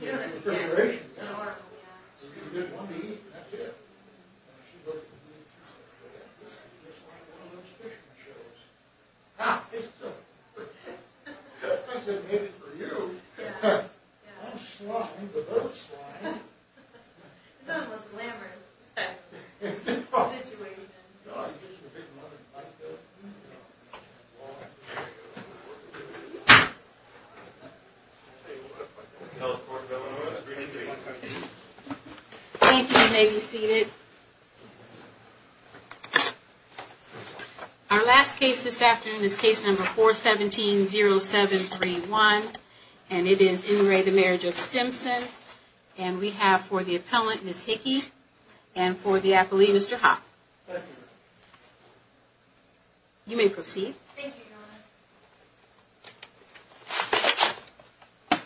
You know, it's an oracle, yeah. So you get one to eat, and that's it. And she'd look at me, and she'd say, I guess I could just watch one of those fishing shows. Ha! I said, maybe for you. Yeah. I'm slime, but I'm slime. That's the most glamorous situation. You know, I used to be a big mother in high school. Thank you. You may be seated. Our last case this afternoon is case number 417-0731, and it is in re the Marriage of Stimson. And we have for the appellant, Ms. Hickey, and for the appellee, Mr. Hopp. You may proceed. Thank you, Your Honor.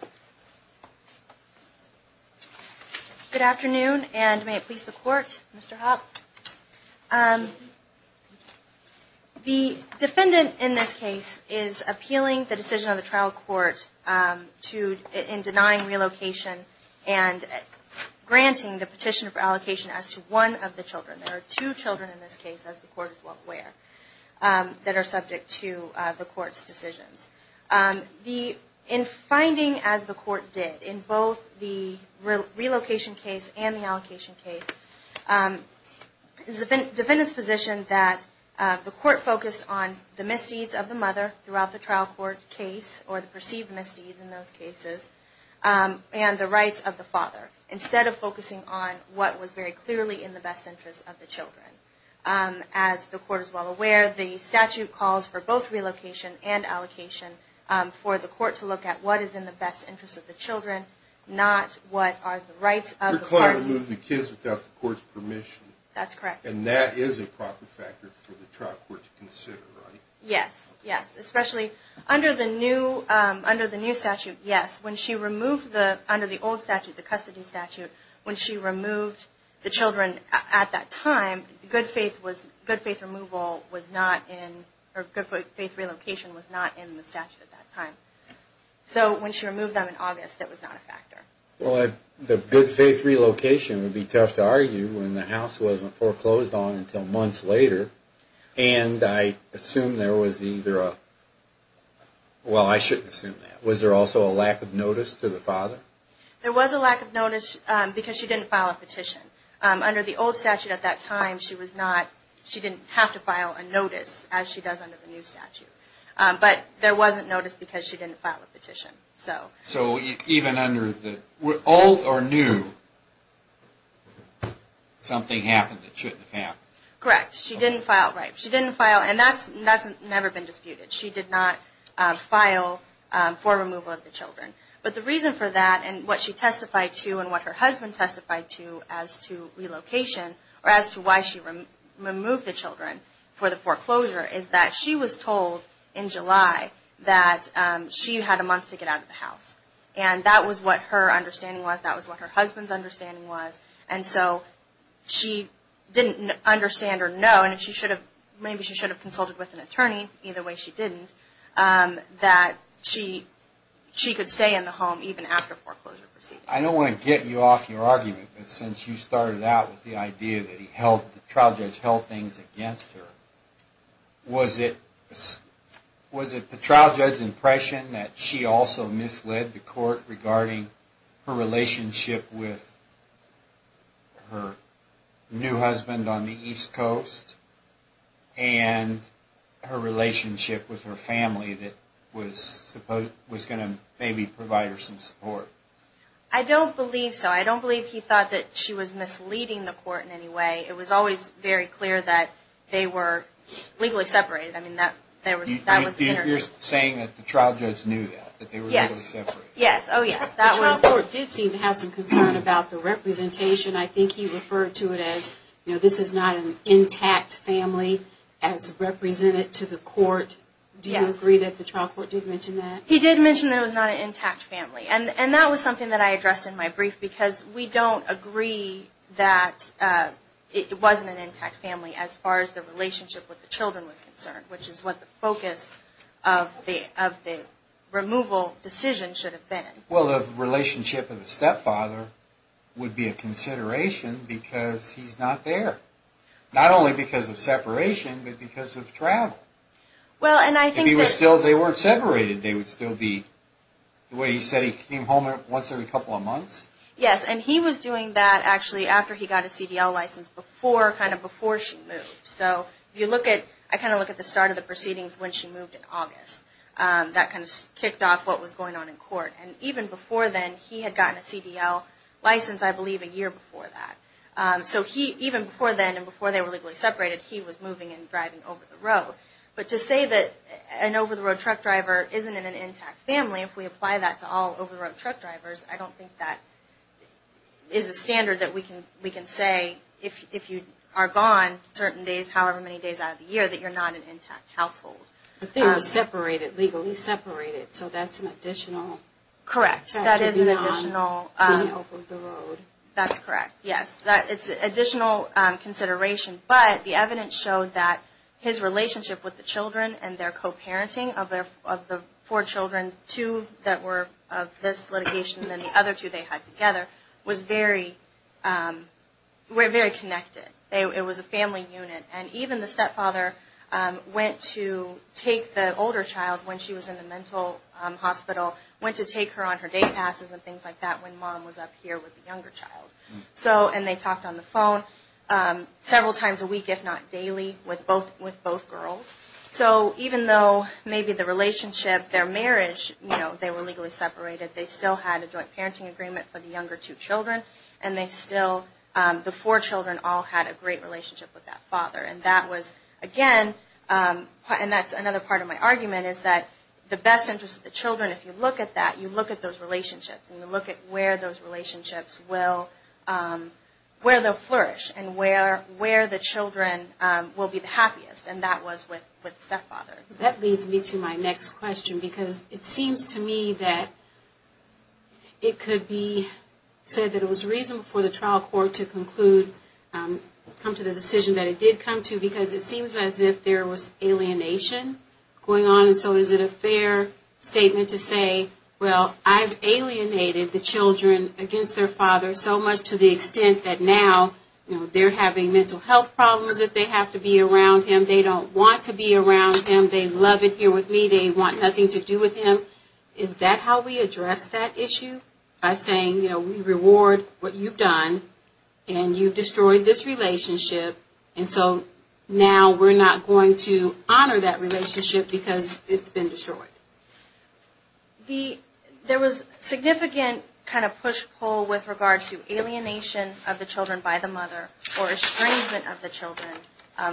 Good afternoon, and may it please the Court, Mr. Hopp. The defendant in this case is appealing the decision of the trial court in denying relocation and granting the petition for allocation as to one of the children. There are two children in this case, as the Court is well aware, that are subject to the Court's decisions. In finding as the Court did in both the relocation case and the allocation case, the defendant's position that the Court focused on the misdeeds of the mother throughout the trial court case or the perceived misdeeds in those cases, and the rights of the father, instead of focusing on what was very clearly in the best interest of the children. As the Court is well aware, the statute calls for both relocation and allocation for the Court to look at what is in the best interest of the children, not what are the rights of the parties. You're claiming to move the kids without the Court's permission. That's correct. And that is a proper factor for the trial court to consider, right? Yes, yes. Especially under the new statute, yes. When she removed the, under the old statute, the custody statute, when she removed the children at that time, good faith was, good faith removal was not in, or good faith relocation was not in the statute at that time. So when she removed them in August, that was not a factor. Well, the good faith relocation would be tough to argue when the house wasn't foreclosed on until months later. And I assume there was either a, well, I shouldn't assume that. Was there also a lack of notice to the father? There was a lack of notice because she didn't file a petition. Under the old statute at that time, she was not, she didn't have to file a notice, as she does under the new statute. But there wasn't notice because she didn't file a petition. So even under the, old or new, something happened that shouldn't have happened? Correct. She didn't file, right. She didn't file, and that's never been disputed. She did not file for removal of the children. But the reason for that and what she testified to and what her husband testified to as to relocation, or as to why she removed the children for the foreclosure, is that she was told in July that she had a month to get out of the house. And that was what her understanding was. That was what her husband's understanding was. And so she didn't understand or know, and maybe she should have consulted with an attorney, either way she didn't, that she could stay in the home even after foreclosure proceedings. I don't want to get you off your argument, but since you started out with the idea that the trial judge held things against her, was it the trial judge's impression that she also misled the court regarding her relationship with her new husband on the East Coast and her relationship with her family that was going to maybe provide her some support? I don't believe so. I don't believe he thought that she was misleading the court in any way. It was always very clear that they were legally separated. You're saying that the trial judge knew that, that they were legally separated? Yes. Oh, yes. The trial court did seem to have some concern about the representation. I think he referred to it as, you know, this is not an intact family as represented to the court. Do you agree that the trial court did mention that? He did mention that it was not an intact family. And that was something that I addressed in my brief because we don't agree that it wasn't an intact family as far as the relationship with the children was concerned, which is what the focus of the removal decision should have been. Well, the relationship of the stepfather would be a consideration because he's not there. Not only because of separation, but because of travel. Well, and I think that... If they weren't separated, they would still be the way he said he came home once every couple of months? Yes, and he was doing that actually after he got his CDL license before she moved. So you look at... I kind of look at the start of the proceedings when she moved in August. That kind of kicked off what was going on in court. And even before then, he had gotten a CDL license, I believe, a year before that. So even before then and before they were legally separated, he was moving and driving over the road. But to say that an over-the-road truck driver isn't in an intact family, if we apply that to all over-the-road truck drivers, I don't think that is a standard that we can say if you are gone certain days, however many days out of the year, that you're not an intact household. But they were separated, legally separated. So that's an additional... That is an additional... After he's gone, he's over the road. That's correct, yes. It's an additional consideration. But the evidence showed that his relationship with the children and their co-parenting of the four children, two that were of this litigation and the other two they had together, were very connected. It was a family unit. And even the stepfather went to take the older child when she was in the mental hospital, went to take her on her day passes and things like that when mom was up here with the younger child. And they talked on the phone several times a week, if not daily, with both girls. So even though maybe the relationship, their marriage, they were legally separated, they still had a joint parenting agreement for the younger two children. And they still, the four children all had a great relationship with that father. And that was, again, and that's another part of my argument, is that the best interest of the children, if you look at that, you look at those relationships and you look at where those relationships will, where they'll flourish and where the children will be the happiest. And that was with stepfather. That leads me to my next question, because it seems to me that it could be said that it was reasonable for the trial court to conclude, come to the decision that it did come to, because it seems as if there was alienation going on. And so is it a fair statement to say, well, I've alienated the children against their father so much to the extent that now, you know, they're having mental health problems if they have to be around him. They don't want to be around him. They love it here with me. They want nothing to do with him. Is that how we address that issue, by saying, you know, we reward what you've done and you've destroyed this relationship. And so now we're not going to honor that relationship because it's been destroyed. There was significant kind of push-pull with regard to alienation of the children by the mother or estrangement of the children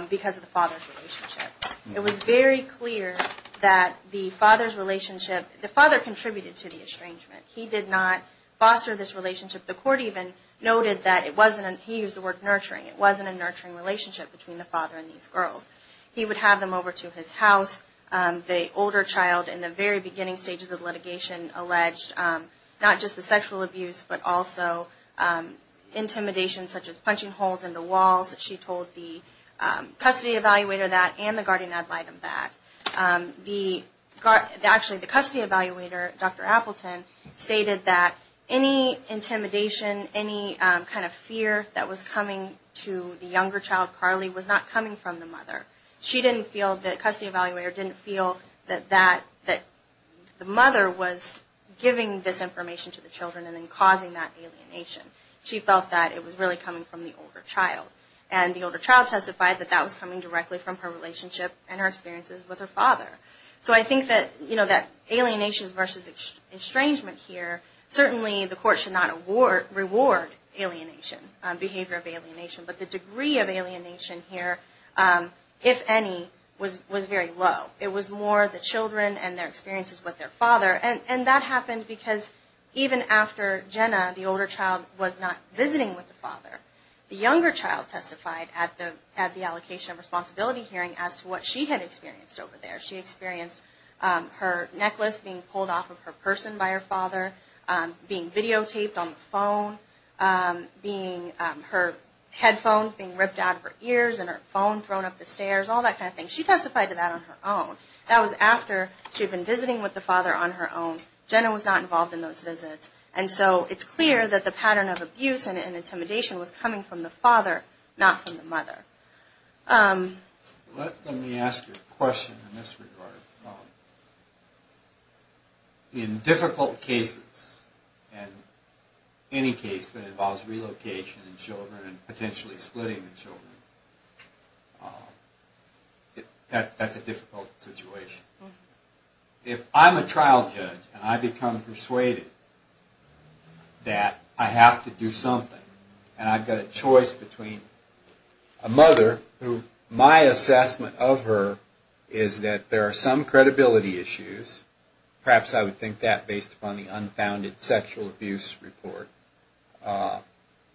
because of the father's relationship. It was very clear that the father's relationship, the father contributed to the estrangement. He did not foster this relationship. The court even noted that it wasn't, he used the word nurturing, it wasn't a nurturing relationship between the father and these girls. He would have them over to his house. The older child in the very beginning stages of litigation alleged not just the sexual abuse but also intimidation such as punching holes in the walls. She told the custody evaluator that and the guardian ad litem that. Actually the custody evaluator, Dr. Appleton, stated that any intimidation, any kind of fear that was coming to the younger child, Carly, was not coming from the mother. She didn't feel, the custody evaluator didn't feel that the mother was giving this information to the children and then causing that alienation. She felt that it was really coming from the older child. And the older child testified that that was coming directly from her relationship and her experiences with her father. So I think that alienation versus estrangement here, certainly the court should not reward alienation, behavior of alienation. But the degree of alienation here, if any, was very low. It was more the children and their experiences with their father. And that happened because even after Jenna, the older child, was not visiting with the father, the younger child testified at the allocation of responsibility hearing as to what she had experienced over there. She experienced her necklace being pulled off of her person by her father, being videotaped on the phone, her headphones being ripped out of her ears and her phone thrown up the stairs, all that kind of thing. She testified to that on her own. That was after she had been visiting with the father on her own. Jenna was not involved in those visits. And so it's clear that the pattern of abuse and intimidation was coming from the father, not from the mother. Let me ask you a question in this regard. In difficult cases, in any case that involves relocation of children and potentially splitting the children, that's a difficult situation. If I'm a trial judge and I become persuaded that I have to do something and I've got a choice between a mother who my assessment of her is that there are some credibility issues, perhaps I would think that based upon the unfounded sexual abuse report.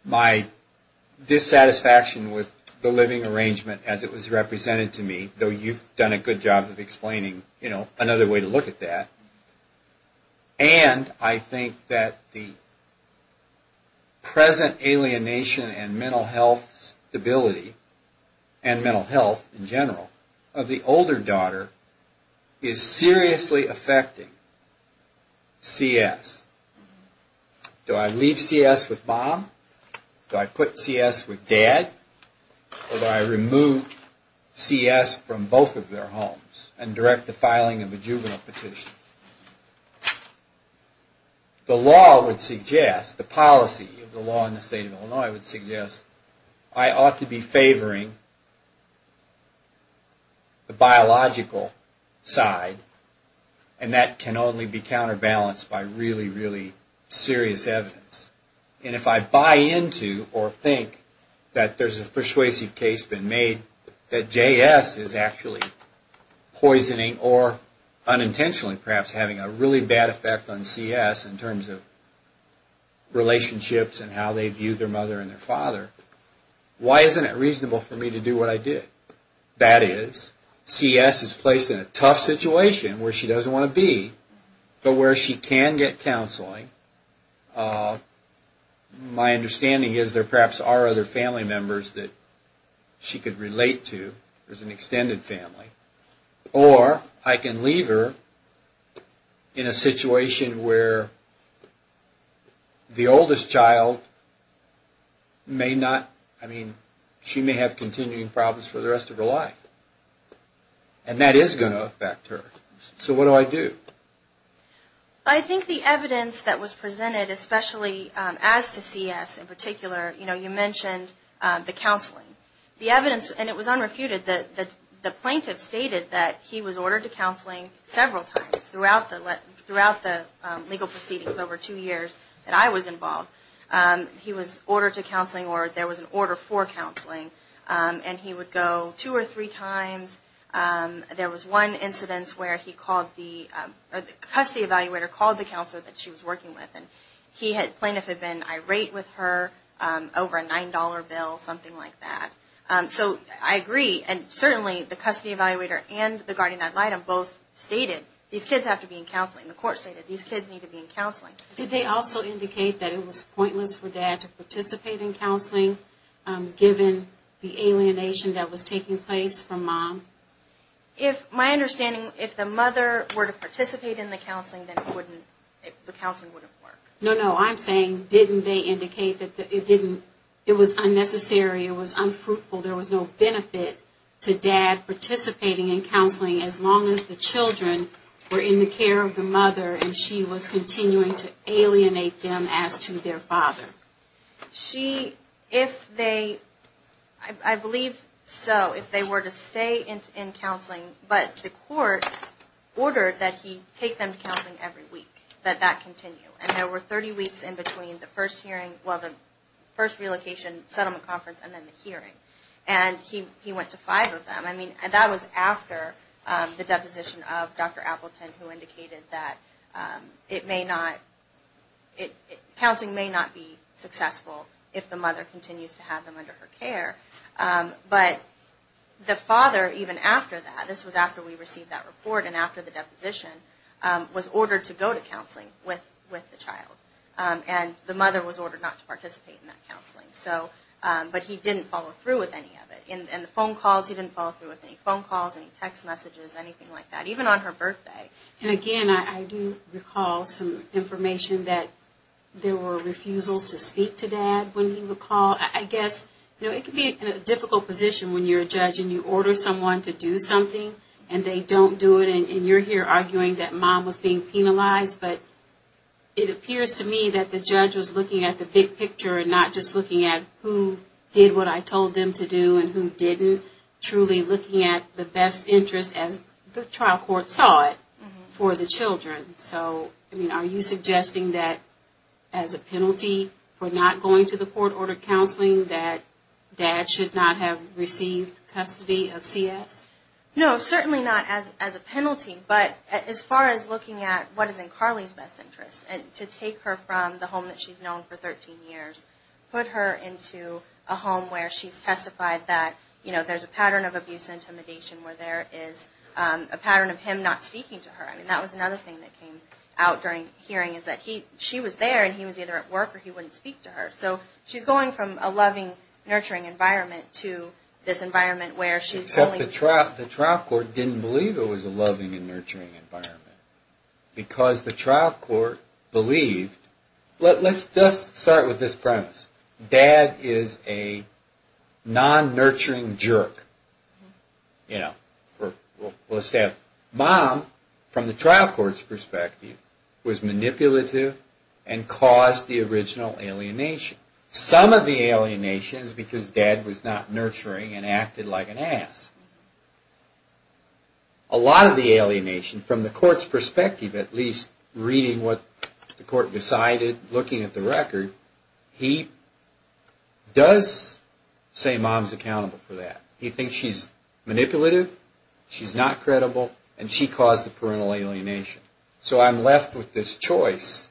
My dissatisfaction with the living arrangement as it was represented to me, though you've done a good job of explaining another way to look at that. And I think that the present alienation and mental health stability and mental health in general of the older daughter is seriously affecting CS. Do I leave CS with mom? Do I put CS with dad? Or do I remove CS from both of their homes and direct the filing of a juvenile petition? The law would suggest, the policy of the law in the state of Illinois would suggest, I ought to be favoring the biological side and that can only be counterbalanced by really, really serious evidence. And if I buy into or think that there's a persuasive case been made, that JS is actually poisoning or unintentionally perhaps having a really bad effect on CS in terms of relationships and how they view their mother and their father, why isn't it reasonable for me to do what I did? That is, CS is placed in a tough situation where she doesn't want to be, but where she can get counseling. My understanding is there perhaps are other family members that she could relate to as an extended family. Or I can leave her in a situation where the oldest child may not, I mean, she may have continuing problems for the rest of her life. And that is going to affect her. So what do I do? I think the evidence that was presented, especially as to CS in particular, you know, you mentioned the counseling. The evidence, and it was unrefuted, that the plaintiff stated that he was ordered to counseling several times throughout the legal proceedings over two years that I was involved. He was ordered to counseling or there was an order for counseling. And he would go two or three times. There was one incident where he called the, or the custody evaluator called the counselor that she was working with. And the plaintiff had been irate with her over a $9 bill, something like that. So I agree. And certainly the custody evaluator and the guardian ad litem both stated, these kids have to be in counseling. The court stated these kids need to be in counseling. Did they also indicate that it was pointless for dad to participate in counseling, given the alienation that was taking place from mom? My understanding, if the mother were to participate in the counseling, then it wouldn't, the counseling wouldn't work. No, no. I'm saying didn't they indicate that it didn't, it was unnecessary, it was unfruitful, there was no benefit to dad participating in counseling as long as the children were in the care of the mother and she was continuing to alienate them as to their father. She, if they, I believe so, if they were to stay in counseling, but the court ordered that he take them to counseling every week, that that continue. And there were 30 weeks in between the first hearing, well, the first relocation settlement conference and then the hearing. And he went to five of them. I mean, that was after the deposition of Dr. Appleton, who indicated that it may not, counseling may not be successful if the mother continues to have them under her care. But the father, even after that, this was after we received that report and after the deposition, was ordered to go to counseling with the child. And the mother was ordered not to participate in that counseling. So, but he didn't follow through with any of it. And the phone calls, he didn't follow through with any phone calls, any text messages, anything like that, even on her birthday. And again, I do recall some information that there were refusals to speak to dad when he would call. I guess, you know, it can be in a difficult position when you're a judge and you order someone to do something and they don't do it. And you're here arguing that mom was being penalized. But it appears to me that the judge was looking at the big picture and not just looking at who did what I told them to do and who didn't. Truly looking at the best interest, as the trial court saw it, for the children. So, I mean, are you suggesting that as a penalty for not going to the court-ordered counseling, that dad should not have received custody of CS? No, certainly not as a penalty. But as far as looking at what is in Carly's best interest, to take her from the home that she's known for 13 years, put her into a home where she's testified that, you know, there's a pattern of abuse and intimidation where there is a pattern of him not speaking to her. I mean, that was another thing that came out during hearing, is that she was there and he was either at work or he wouldn't speak to her. So she's going from a loving, nurturing environment to this environment where she's only- Except the trial court didn't believe it was a loving and nurturing environment. Because the trial court believed- Let's just start with this premise. Dad is a non-nurturing jerk. Let's say a mom, from the trial court's perspective, was manipulative and caused the original alienation. Some of the alienation is because dad was not nurturing and acted like an ass. A lot of the alienation, from the court's perspective, at least reading what the court decided, looking at the record, he does say mom's accountable for that. He thinks she's manipulative, she's not credible, and she caused the parental alienation. So I'm left with this choice.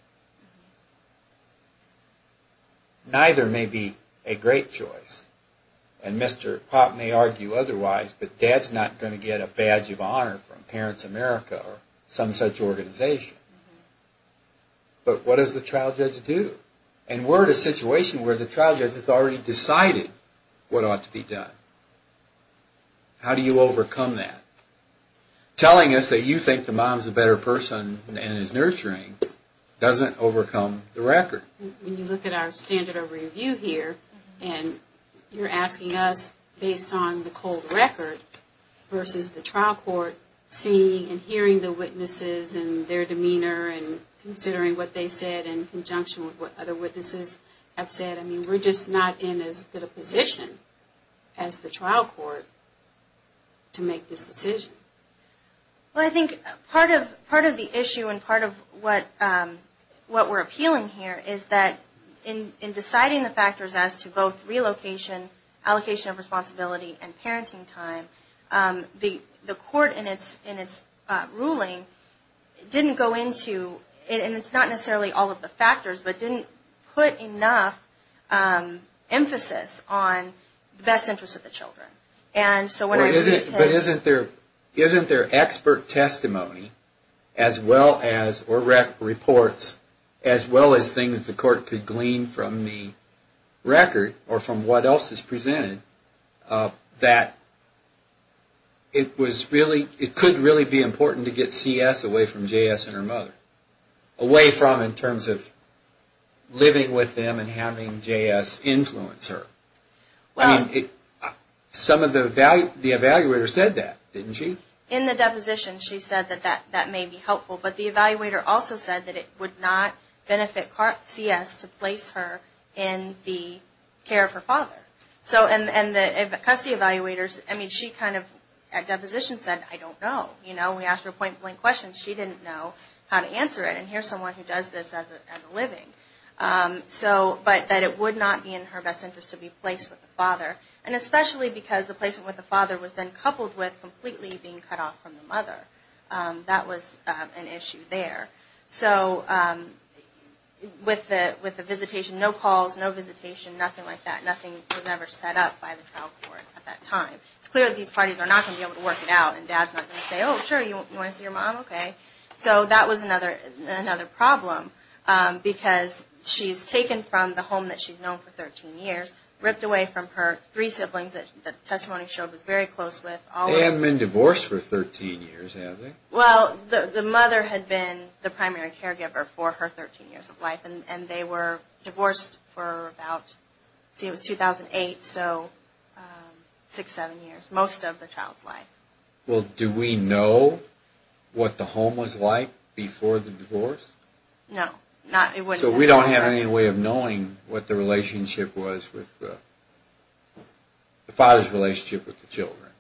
Neither may be a great choice. And Mr. Popp may argue otherwise, but dad's not going to get a badge of honor from Parents America or some such organization. But what does the trial judge do? And we're in a situation where the trial judge has already decided what ought to be done. How do you overcome that? Telling us that you think the mom's a better person and is nurturing doesn't overcome the record. When you look at our standard of review here, and you're asking us based on the cold record versus the trial court, seeing and hearing the witnesses and their demeanor and considering what they said in conjunction with what other witnesses have said, we're just not in as good a position as the trial court to make this decision. Well, I think part of the issue and part of what we're appealing here is that in deciding the factors as to both relocation, allocation of responsibility, and parenting time, the court in its ruling didn't go into, and it's not necessarily all of the factors, but didn't put enough emphasis on the best interest of the children. But isn't there expert testimony as well as, or reports, as well as things the court could glean from the record or from what else is presented, that it could really be important to get CS away from JS and her mother, away from in terms of living with them and having JS influence her? I mean, some of the evaluators said that, didn't she? In the deposition, she said that that may be helpful, but the evaluator also said that it would not benefit CS to place her in the care of her father. And the custody evaluators, I mean, she kind of at deposition said, I don't know. You know, we asked her point blank questions. She didn't know how to answer it, and here's someone who does this as a living. So, but that it would not be in her best interest to be placed with the father, and especially because the placement with the father was then coupled with completely being cut off from the mother. That was an issue there. So, with the visitation, no calls, no visitation, nothing like that. Nothing was ever set up by the trial court at that time. It's clear that these parties are not going to be able to work it out, and dad's not going to say, oh, sure, you want to see your mom? Okay. So, that was another problem, because she's taken from the home that she's known for 13 years, ripped away from her three siblings that the testimony showed was very close with. They haven't been divorced for 13 years, have they? Well, the mother had been the primary caregiver for her 13 years of life, and they were divorced for about, let's see, it was 2008, so six, seven years. Most of the child's life. Well, do we know what the home was like before the divorce? No. So, we don't have any way of knowing what the relationship was with, the father's relationship with the children.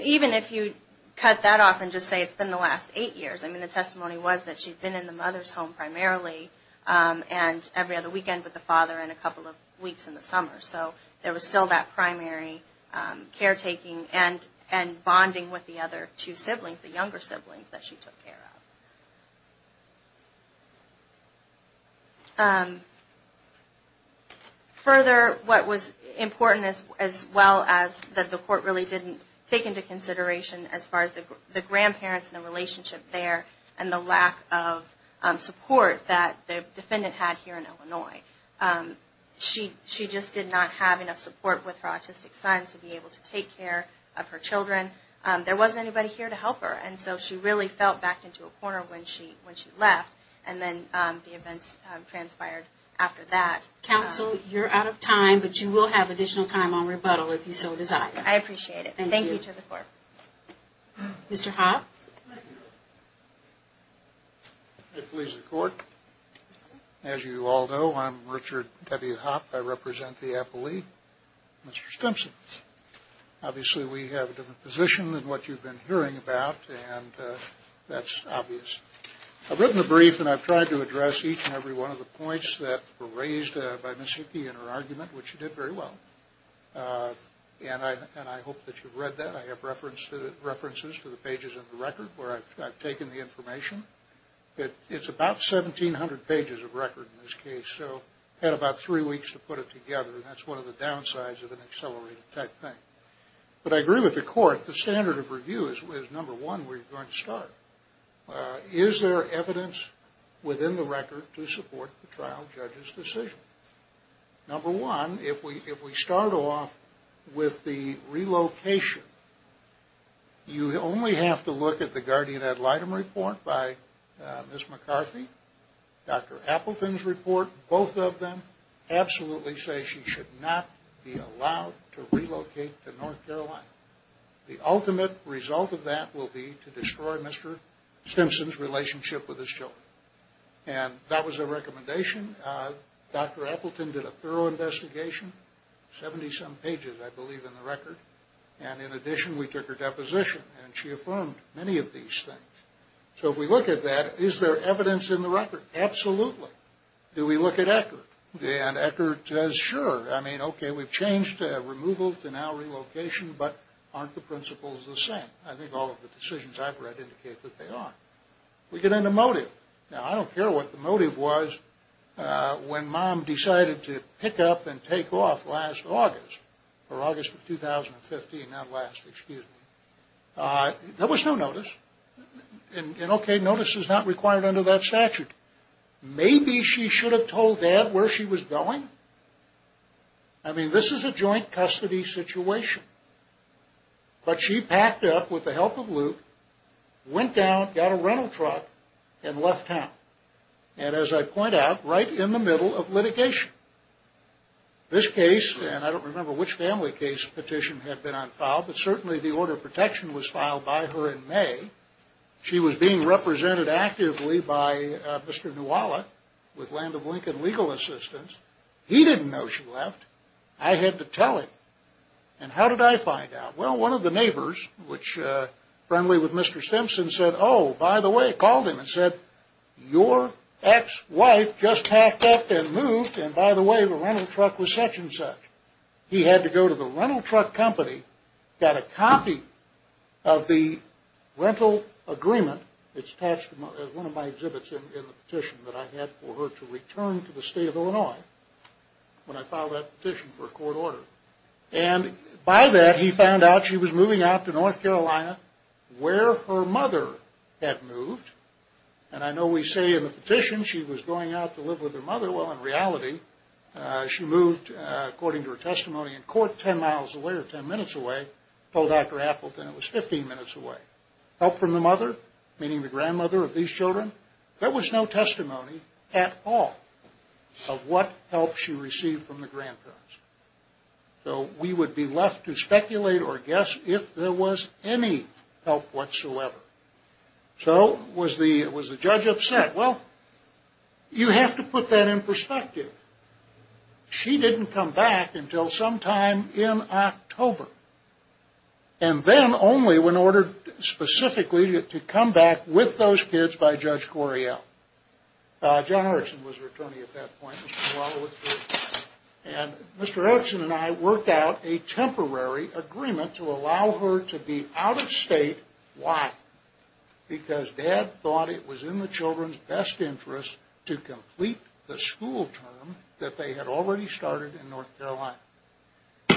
Even if you cut that off and just say it's been the last eight years, I mean, the testimony was that she'd been in the mother's home primarily and every other weekend with the father and a couple of weeks in the summer. So, there was still that primary caretaking and bonding with the other two siblings, the younger siblings that she took care of. Further, what was important as well as that the court really didn't take into consideration as far as the grandparents and the relationship there and the lack of support that the defendant had here in Illinois. She just did not have enough support with her autistic son to be able to take care of her children. There wasn't anybody here to help her, and so she really fell back into a corner when she left, and then the events transpired after that. Counsel, you're out of time, but you will have additional time on rebuttal if you so desire. I appreciate it. Thank you to the court. Mr. Hoff? If it pleases the court, as you all know, I'm Richard W. Hoff. I represent the appellee, Mr. Stimson. Obviously, we have a different position than what you've been hearing about, and that's obvious. I've written a brief, and I've tried to address each and every one of the points that were raised by Ms. Hickey in her argument, which she did very well, and I hope that you've read that. I have references to the pages of the record where I've taken the information. It's about 1,700 pages of record in this case, so I had about three weeks to put it together, and that's one of the downsides of an accelerated type thing. But I agree with the court. The standard of review is, number one, where you're going to start. Is there evidence within the record to support the trial judge's decision? Number one, if we start off with the relocation, you only have to look at the guardian ad litem report by Ms. McCarthy, Dr. Appleton's report, both of them absolutely say she should not be allowed to relocate to North Carolina. The ultimate result of that will be to destroy Mr. Stimson's relationship with his children. And that was a recommendation. Dr. Appleton did a thorough investigation, 70-some pages, I believe, in the record. And in addition, we took her deposition, and she affirmed many of these things. So if we look at that, is there evidence in the record? Absolutely. Do we look at Eckert? And Eckert says, sure. I mean, okay, we've changed removal to now relocation, but aren't the principles the same? I think all of the decisions I've read indicate that they are. We get into motive. Now, I don't care what the motive was when Mom decided to pick up and take off last August, or August of 2015, not last, excuse me. There was no notice. And, okay, notice is not required under that statute. Maybe she should have told Dad where she was going. I mean, this is a joint custody situation. But she packed up with the help of Luke, went down, got a rental truck, and left town. And as I point out, right in the middle of litigation. This case, and I don't remember which family case petition had been unfiled, but certainly the order of protection was filed by her in May. She was being represented actively by Mr. Nuwala with Land of Lincoln Legal Assistance. He didn't know she left. I had to tell him. And how did I find out? Well, one of the neighbors, which, friendly with Mr. Simpson, said, oh, by the way, called him and said, your ex-wife just packed up and moved. And, by the way, the rental truck was such and such. He had to go to the rental truck company, got a copy of the rental agreement. It's attached to one of my exhibits in the petition that I had for her to return to the state of Illinois when I filed that petition for a court order. And, by that, he found out she was moving out to North Carolina where her mother had moved. And I know we say in the petition she was going out to live with her mother. Well, in reality, she moved, according to her testimony in court, 10 miles away or 10 minutes away. Told Dr. Appleton it was 15 minutes away. Help from the mother, meaning the grandmother of these children. There was no testimony at all of what help she received from the grandparents. So we would be left to speculate or guess if there was any help whatsoever. So was the judge upset? Well, you have to put that in perspective. She didn't come back until sometime in October. And then only when ordered specifically to come back with those kids by Judge Correal. John Erickson was her attorney at that point. And Mr. Erickson and I worked out a temporary agreement to allow her to be out of state. Why? Because Dad thought it was in the children's best interest to complete the school term that they had already started in North Carolina.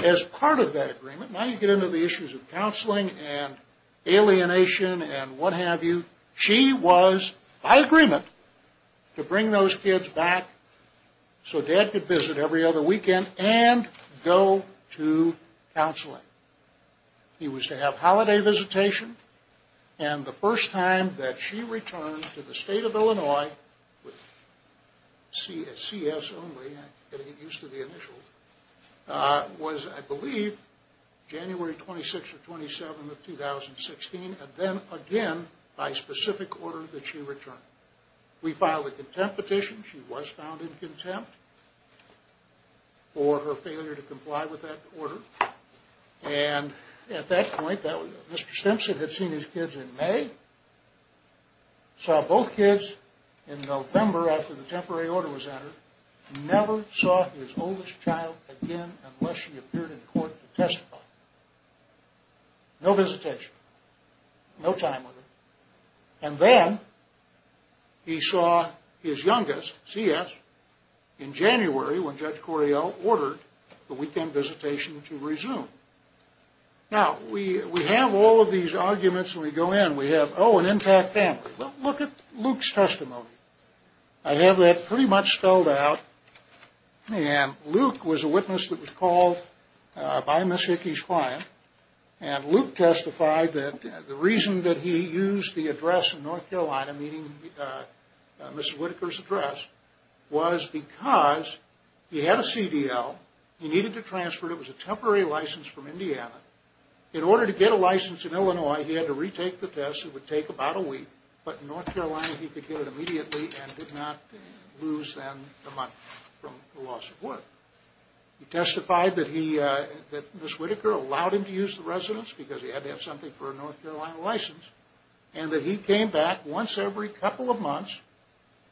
As part of that agreement, now you get into the issues of counseling and alienation and what have you. She was, by agreement, to bring those kids back so Dad could visit every other weekend and go to counseling. He was to have holiday visitation. And the first time that she returned to the state of Illinois, with CS only, I'm getting used to the initials, was, I believe, January 26 or 27 of 2016. And then again by specific order that she returned. We filed a contempt petition. She was found in contempt for her failure to comply with that order. And at that point, Mr. Stimson had seen his kids in May. Saw both kids in November after the temporary order was entered. Never saw his oldest child again unless she appeared in court to testify. No visitation. No time with her. And then he saw his youngest, CS, in January when Judge Correo ordered the weekend visitation to resume. Now, we have all of these arguments when we go in. We have, oh, an intact family. Well, look at Luke's testimony. I have that pretty much spelled out. And Luke was a witness that was called by Miss Hickey's client. And Luke testified that the reason that he used the address in North Carolina, meaning Miss Whitaker's address, was because he had a CDL. He needed to transfer it. It was a temporary license from Indiana. In order to get a license in Illinois, he had to retake the test. It would take about a week. But in North Carolina, he could get it immediately and did not lose, then, a month from the loss of work. He testified that Miss Whitaker allowed him to use the residence because he had to have something for a North Carolina license, and that he came back once every couple of months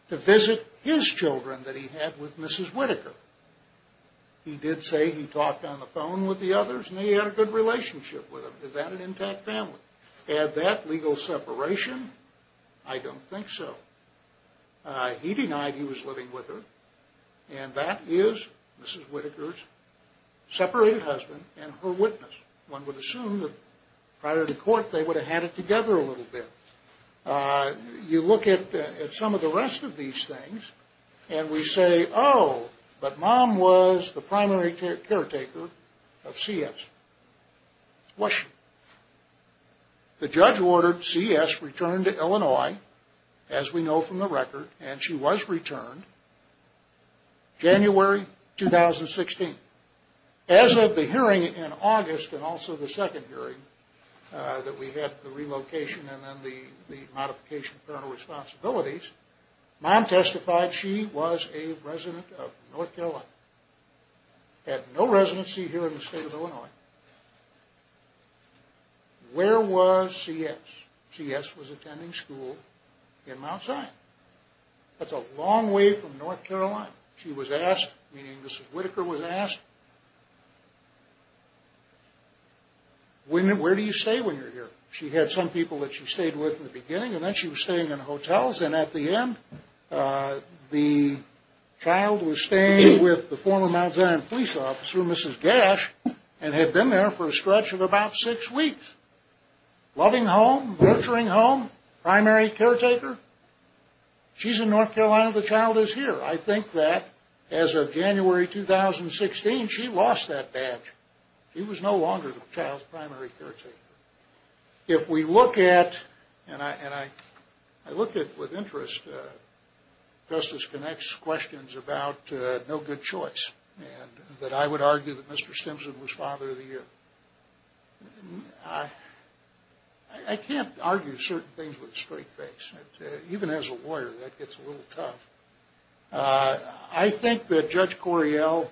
to visit his children that he had with Mrs. Whitaker. He did say he talked on the phone with the others and he had a good relationship with them. Is that an intact family? Had that legal separation? I don't think so. He denied he was living with her. And that is Mrs. Whitaker's separated husband and her witness. One would assume that prior to court, they would have had it together a little bit. You look at some of the rest of these things, and we say, oh, but Mom was the primary caretaker of C.S. Was she? The judge ordered C.S. return to Illinois, as we know from the record, and she was returned January 2016. As of the hearing in August, and also the second hearing that we had, the relocation and then the modification of parental responsibilities, Mom testified she was a resident of North Carolina. Had no residency here in the state of Illinois. Where was C.S.? C.S. was attending school in Mount Zion. That's a long way from North Carolina. She was asked, meaning Mrs. Whitaker was asked, where do you stay when you're here? She had some people that she stayed with in the beginning, and then she was staying in hotels, and at the end, the child was staying with the former Mount Zion police officer, Mrs. Gash, and had been there for a stretch of about six weeks. Loving home, nurturing home, primary caretaker. She's in North Carolina. The child is here. I think that as of January 2016, she lost that badge. She was no longer the child's primary caretaker. If we look at, and I look at with interest Justice Connick's questions about no good choice, and that I would argue that Mr. Stimson was father of the year. I can't argue certain things with a straight face. Even as a lawyer, that gets a little tough. I think that Judge Correale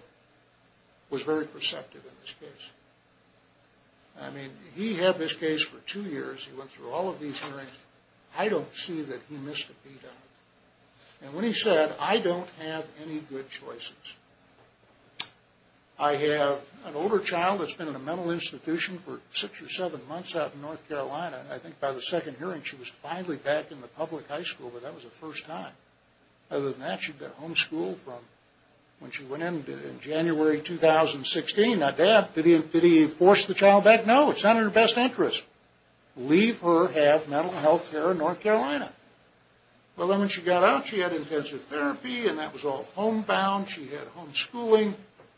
was very perceptive in this case. I mean, he had this case for two years. He went through all of these hearings. I don't see that he missed a beat on it. And when he said, I don't have any good choices, I have an older child that's been in a mental institution for six or seven months out in North Carolina, and I think by the second hearing, she was finally back in the public high school, but that was the first time. Other than that, she'd been homeschooled from when she went in in January 2016. Now, did he force the child back? No, it's not in her best interest. Leave her, have mental health care in North Carolina. Well, then when she got out, she had intensive therapy, and that was all homebound. She had homeschooling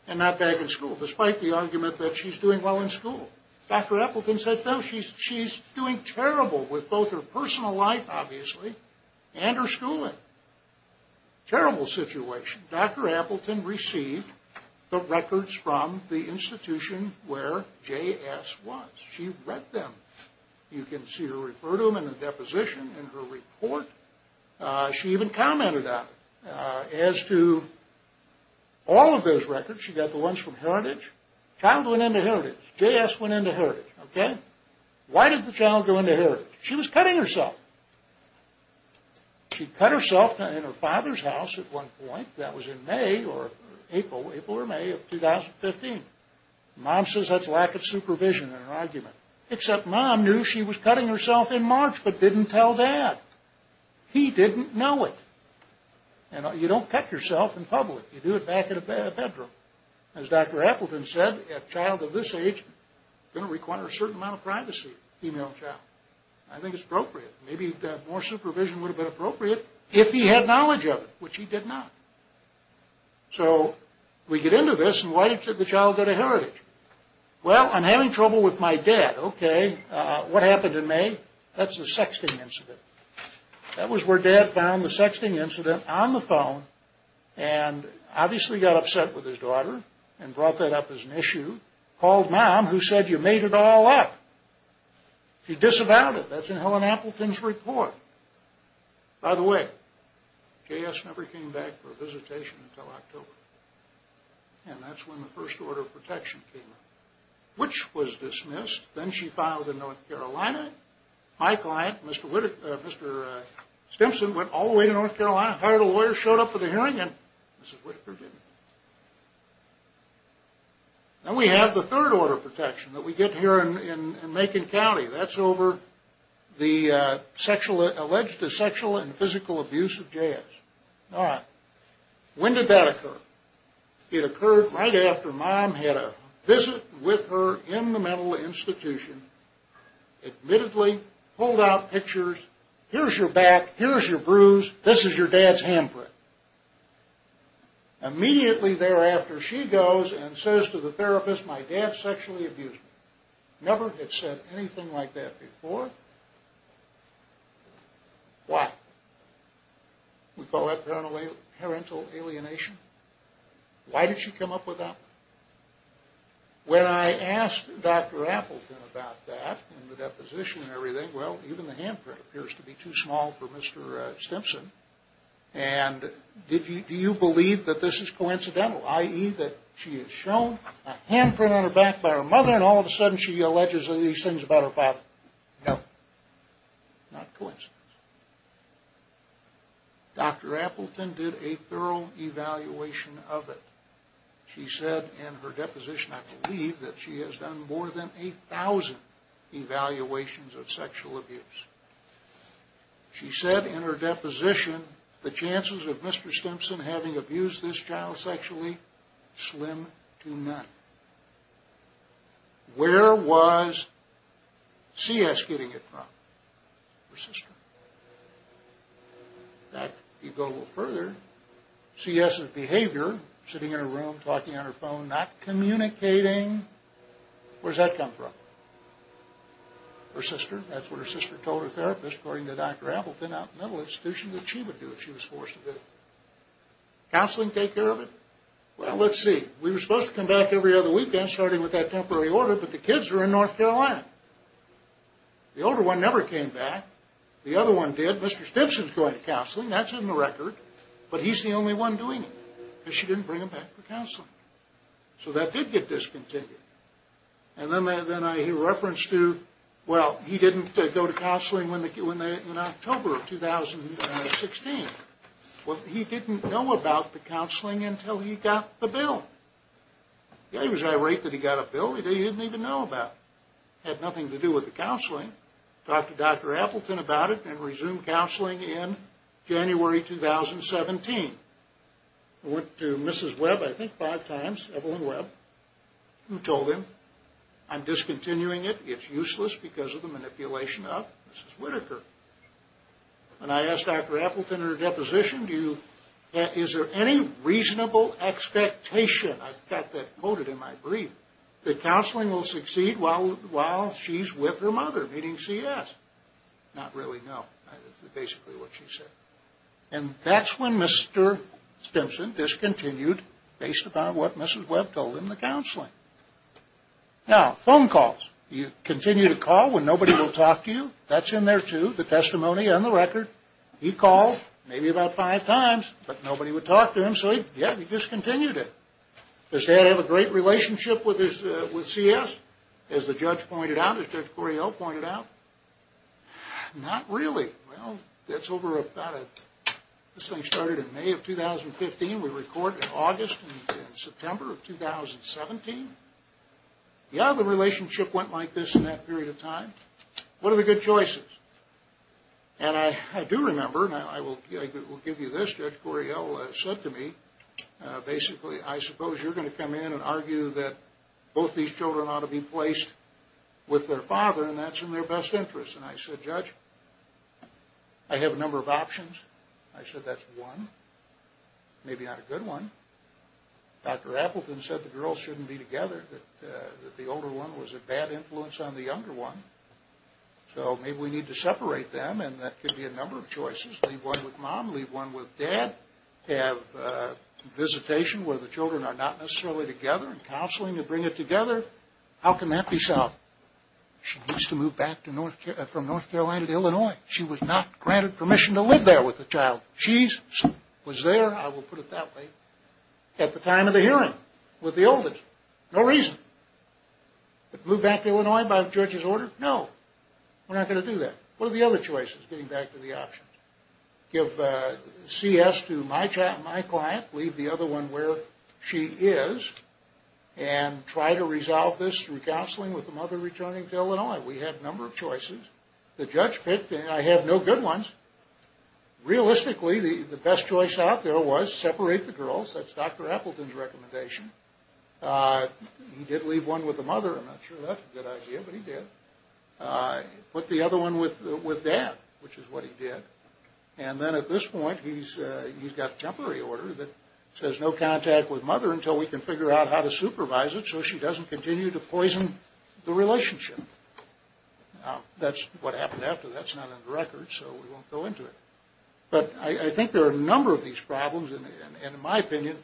and not back in school, despite the argument that she's doing well in school. Dr. Appleton said, no, she's doing terrible with both her personal life, obviously, and her schooling. Terrible situation. Dr. Appleton received the records from the institution where J.S. was. She read them. You can see her refer to them in the deposition in her report. She even commented on it. As to all of those records, she got the ones from Heritage. Child went into Heritage. J.S. went into Heritage. Why did the child go into Heritage? She was cutting herself. She cut herself in her father's house at one point. That was in May or April or May of 2015. Mom says that's lack of supervision in her argument, except Mom knew she was cutting herself in March but didn't tell Dad. He didn't know it. You don't cut yourself in public. You do it back in a bedroom. As Dr. Appleton said, a child of this age is going to require a certain amount of privacy. I think it's appropriate. Maybe more supervision would have been appropriate if he had knowledge of it, which he did not. So we get into this, and why did the child go to Heritage? Well, I'm having trouble with my dad. Okay, what happened in May? That's the sexting incident. That was where Dad found the sexting incident on the phone and obviously got upset with his daughter and brought that up as an issue, called Mom, who said you made it all up. She disavowed it. That's in Helen Appleton's report. By the way, J.S. never came back for a visitation until October. And that's when the first order of protection came in, which was dismissed. Then she filed in North Carolina. My client, Mr. Stimson, went all the way to North Carolina, hired a lawyer, showed up for the hearing, and Mrs. Whitaker didn't. Now we have the third order of protection that we get here in Macon County. That's over the alleged sexual and physical abuse of J.S. All right, when did that occur? It occurred right after Mom had a visit with her in the mental institution, admittedly pulled out pictures, here's your back, here's your bruise, this is your dad's handprint. Immediately thereafter, she goes and says to the therapist, my dad sexually abused me. Never had said anything like that before. Why? We call that parental alienation. Why did she come up with that? When I asked Dr. Appleton about that, and the deposition and everything, well, even the handprint appears to be too small for Mr. Stimson. And do you believe that this is coincidental, i.e., that she is shown a handprint on her back by her mother, and all of a sudden she alleges these things about her father? No. Not coincidence. Dr. Appleton did a thorough evaluation of it. She said in her deposition, I believe that she has done more than 8,000 evaluations of sexual abuse. She said in her deposition, the chances of Mr. Stimson having abused this child sexually slim to none. Where was C.S. getting it from? Her sister. In fact, if you go a little further, C.S.'s behavior, sitting in her room, talking on her phone, not communicating, where does that come from? Her sister. That's what her sister told her therapist, according to Dr. Appleton, out in the mental institution, that she would do if she was forced to do it. Counseling take care of it? Well, let's see. We were supposed to come back every other weekend, starting with that temporary order, but the kids were in North Carolina. The older one never came back. The other one did. Mr. Stimson's going to counseling. That's in the record. But he's the only one doing it, because she didn't bring him back for counseling. So that did get discontinued. And then I hear reference to, well, he didn't go to counseling in October of 2016. Well, he didn't know about the counseling until he got the bill. Yeah, he was irate that he got a bill that he didn't even know about. It had nothing to do with the counseling. Talked to Dr. Appleton about it and resumed counseling in January 2017. Went to Mrs. Webb, I think, five times, Evelyn Webb, and told him, I'm discontinuing it. It's useless because of the manipulation of Mrs. Whitaker. And I asked Dr. Appleton in her deposition, is there any reasonable expectation, I've got that quoted in my brief, that counseling will succeed while she's with her mother, meaning CS? Not really, no. That's basically what she said. And that's when Mr. Stimson discontinued, based upon what Mrs. Webb told him, the counseling. Now, phone calls. You continue to call when nobody will talk to you? That's in there, too, the testimony and the record. He called maybe about five times, but nobody would talk to him, so, yeah, he discontinued it. Does Dad have a great relationship with CS, as the judge pointed out, as Judge Correale pointed out? Not really. Well, that's over about, this thing started in May of 2015. We recorded in August and September of 2017. Yeah, the relationship went like this in that period of time. What are the good choices? And I do remember, and I will give you this, Judge Correale said to me, basically, I suppose you're going to come in and argue that both these children ought to be placed with their father, and that's in their best interest. And I said, Judge, I have a number of options. I said, that's one. Maybe not a good one. Dr. Appleton said the girls shouldn't be together, that the older one was a bad influence on the younger one. So maybe we need to separate them, and that could be a number of choices. Leave one with Mom, leave one with Dad, have visitation where the children are not necessarily together, and counseling to bring it together. How can that be solved? She needs to move back from North Carolina to Illinois. She was not granted permission to live there with the child. She was there, I will put it that way, at the time of the hearing with the oldest. No reason. Move back to Illinois by the judge's order? No, we're not going to do that. What are the other choices, getting back to the options? Give CS to my client, leave the other one where she is, and try to resolve this through counseling with the mother returning to Illinois. We had a number of choices. The judge picked, and I had no good ones. Realistically, the best choice out there was separate the girls. That's Dr. Appleton's recommendation. He did leave one with the mother. I'm not sure that's a good idea, but he did. Put the other one with Dad, which is what he did. And then at this point, he's got a temporary order that says no contact with Mother until we can figure out how to supervise it so she doesn't continue to poison the relationship. That's what happened after. That's not on the record, so we won't go into it. But I think there are a number of these problems, and in my opinion,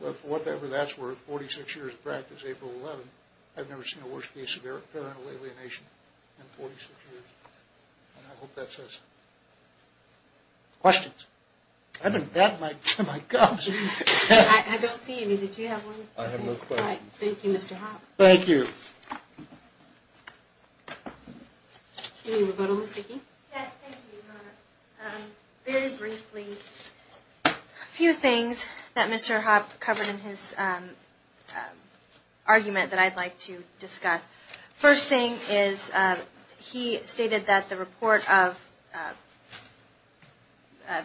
with whatever that's worth, 46 years of practice, April 11th, I've never seen a worse case of parental alienation in 46 years. And I hope that says something. Questions? I've been batting my gums. I don't see any. Did you have one? I have no questions. Thank you, Mr. Hoppe. Thank you. Do we have a vote on the speaking? Yes, thank you. Very briefly, a few things that Mr. Hoppe covered in his argument that I'd like to discuss. First thing is he stated that the report of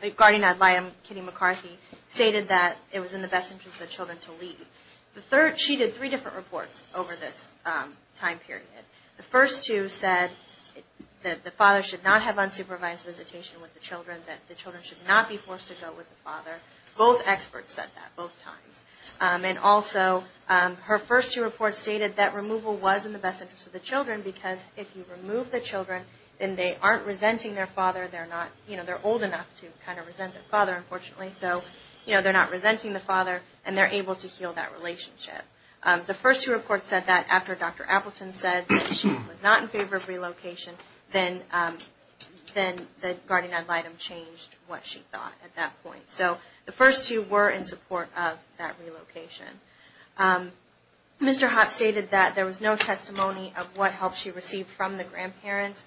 the guardian ad litem, Kitty McCarthy, stated that it was in the best interest of the children to leave. She did three different reports over this time period. The first two said that the father should not have unsupervised visitation with the children, that the children should not be forced to go with the father. Both experts said that both times. And also, her first two reports stated that removal was in the best interest of the children because if you remove the children, then they aren't resenting their father. They're old enough to kind of resent their father, unfortunately. They're not resenting the father, and they're able to heal that relationship. The first two reports said that after Dr. Appleton said that she was not in favor of relocation, then the guardian ad litem changed what she thought at that point. So the first two were in support of that relocation. Mr. Hoppe stated that there was no testimony of what help she received from the grandparents.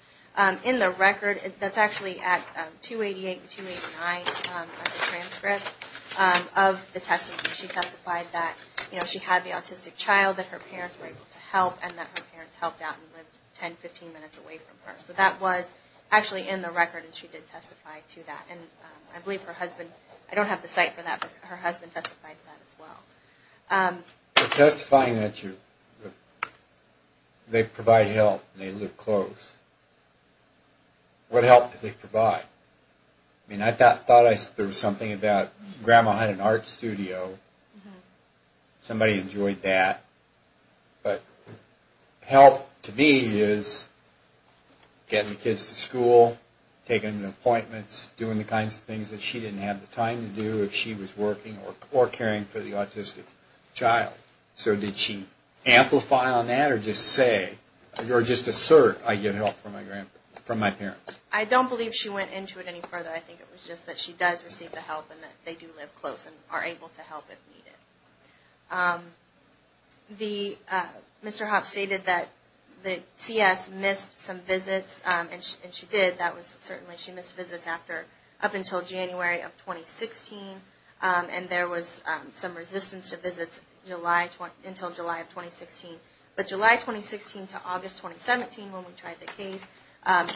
In the record, that's actually at 288 and 289 of the transcript of the testimony, she testified that she had the autistic child, that her parents were able to help, and that her parents helped out and lived 10, 15 minutes away from her. So that was actually in the record, and she did testify to that. And I believe her husband, I don't have the site for that, but her husband testified to that as well. So testifying that they provide help and they live close, what help do they provide? I mean, I thought there was something about grandma had an art studio. Somebody enjoyed that. But help to me is getting the kids to school, taking them to appointments, doing the kinds of things that she didn't have the time to do if she was working or caring for the autistic child. So did she amplify on that or just say, or just assert, I get help from my parents? I don't believe she went into it any further. I think it was just that she does receive the help and that they do live close and are able to help if needed. Mr. Hoppe stated that the TS missed some visits, and she did. That was certainly, she missed visits up until January of 2016, and there was some resistance to visits until July of 2016. But July 2016 to August 2017, when we tried the case,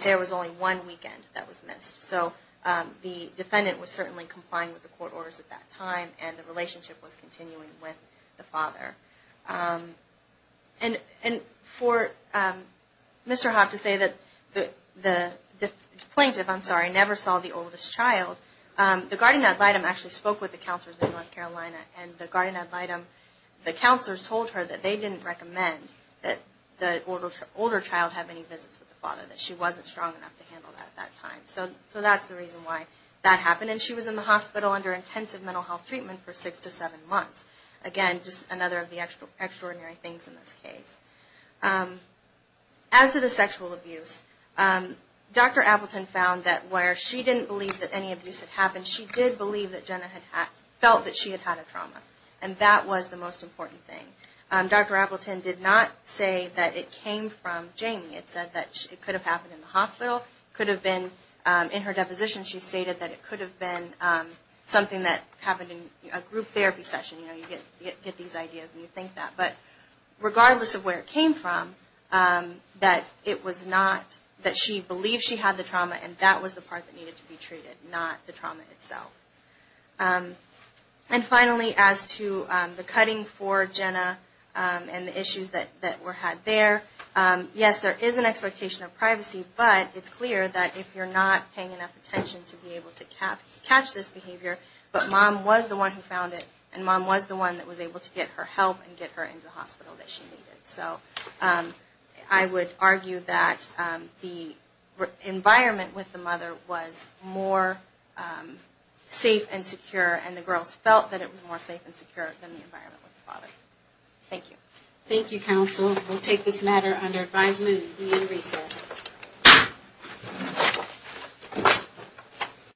there was only one weekend that was missed. So the defendant was certainly complying with the court orders at that time, and the relationship was continuing with the father. And for Mr. Hoppe to say that the plaintiff, I'm sorry, never saw the oldest child, the guardian ad litem actually spoke with the counselors in North Carolina, and the guardian ad litem, the counselors told her that they didn't recommend that the older child have any visits with the father, that she wasn't strong enough to handle that at that time. So that's the reason why that happened, and she was in the hospital under intensive mental health treatment for six to seven months. Again, just another of the extraordinary things in this case. As to the sexual abuse, Dr. Appleton found that where she didn't believe that any abuse had happened, she did believe that Jenna had felt that she had had a trauma. And that was the most important thing. Dr. Appleton did not say that it came from Jamie. It said that it could have happened in the hospital, could have been in her deposition. She stated that it could have been something that happened in a group therapy session. You know, you get these ideas and you think that. But regardless of where it came from, that it was not, that she believed she had the trauma, and that was the part that needed to be treated, not the trauma itself. And finally, as to the cutting for Jenna and the issues that were had there, yes, there is an expectation of privacy, but it's clear that if you're not paying enough attention to be able to catch this behavior, but Mom was the one who found it, and Mom was the one that was able to get her help and get her into the hospital that she needed. So I would argue that the environment with the mother was more safe and secure, and the girls felt that it was more safe and secure than the environment with the father. Thank you. Thank you, counsel. We'll take this matter under advisement and be in recess.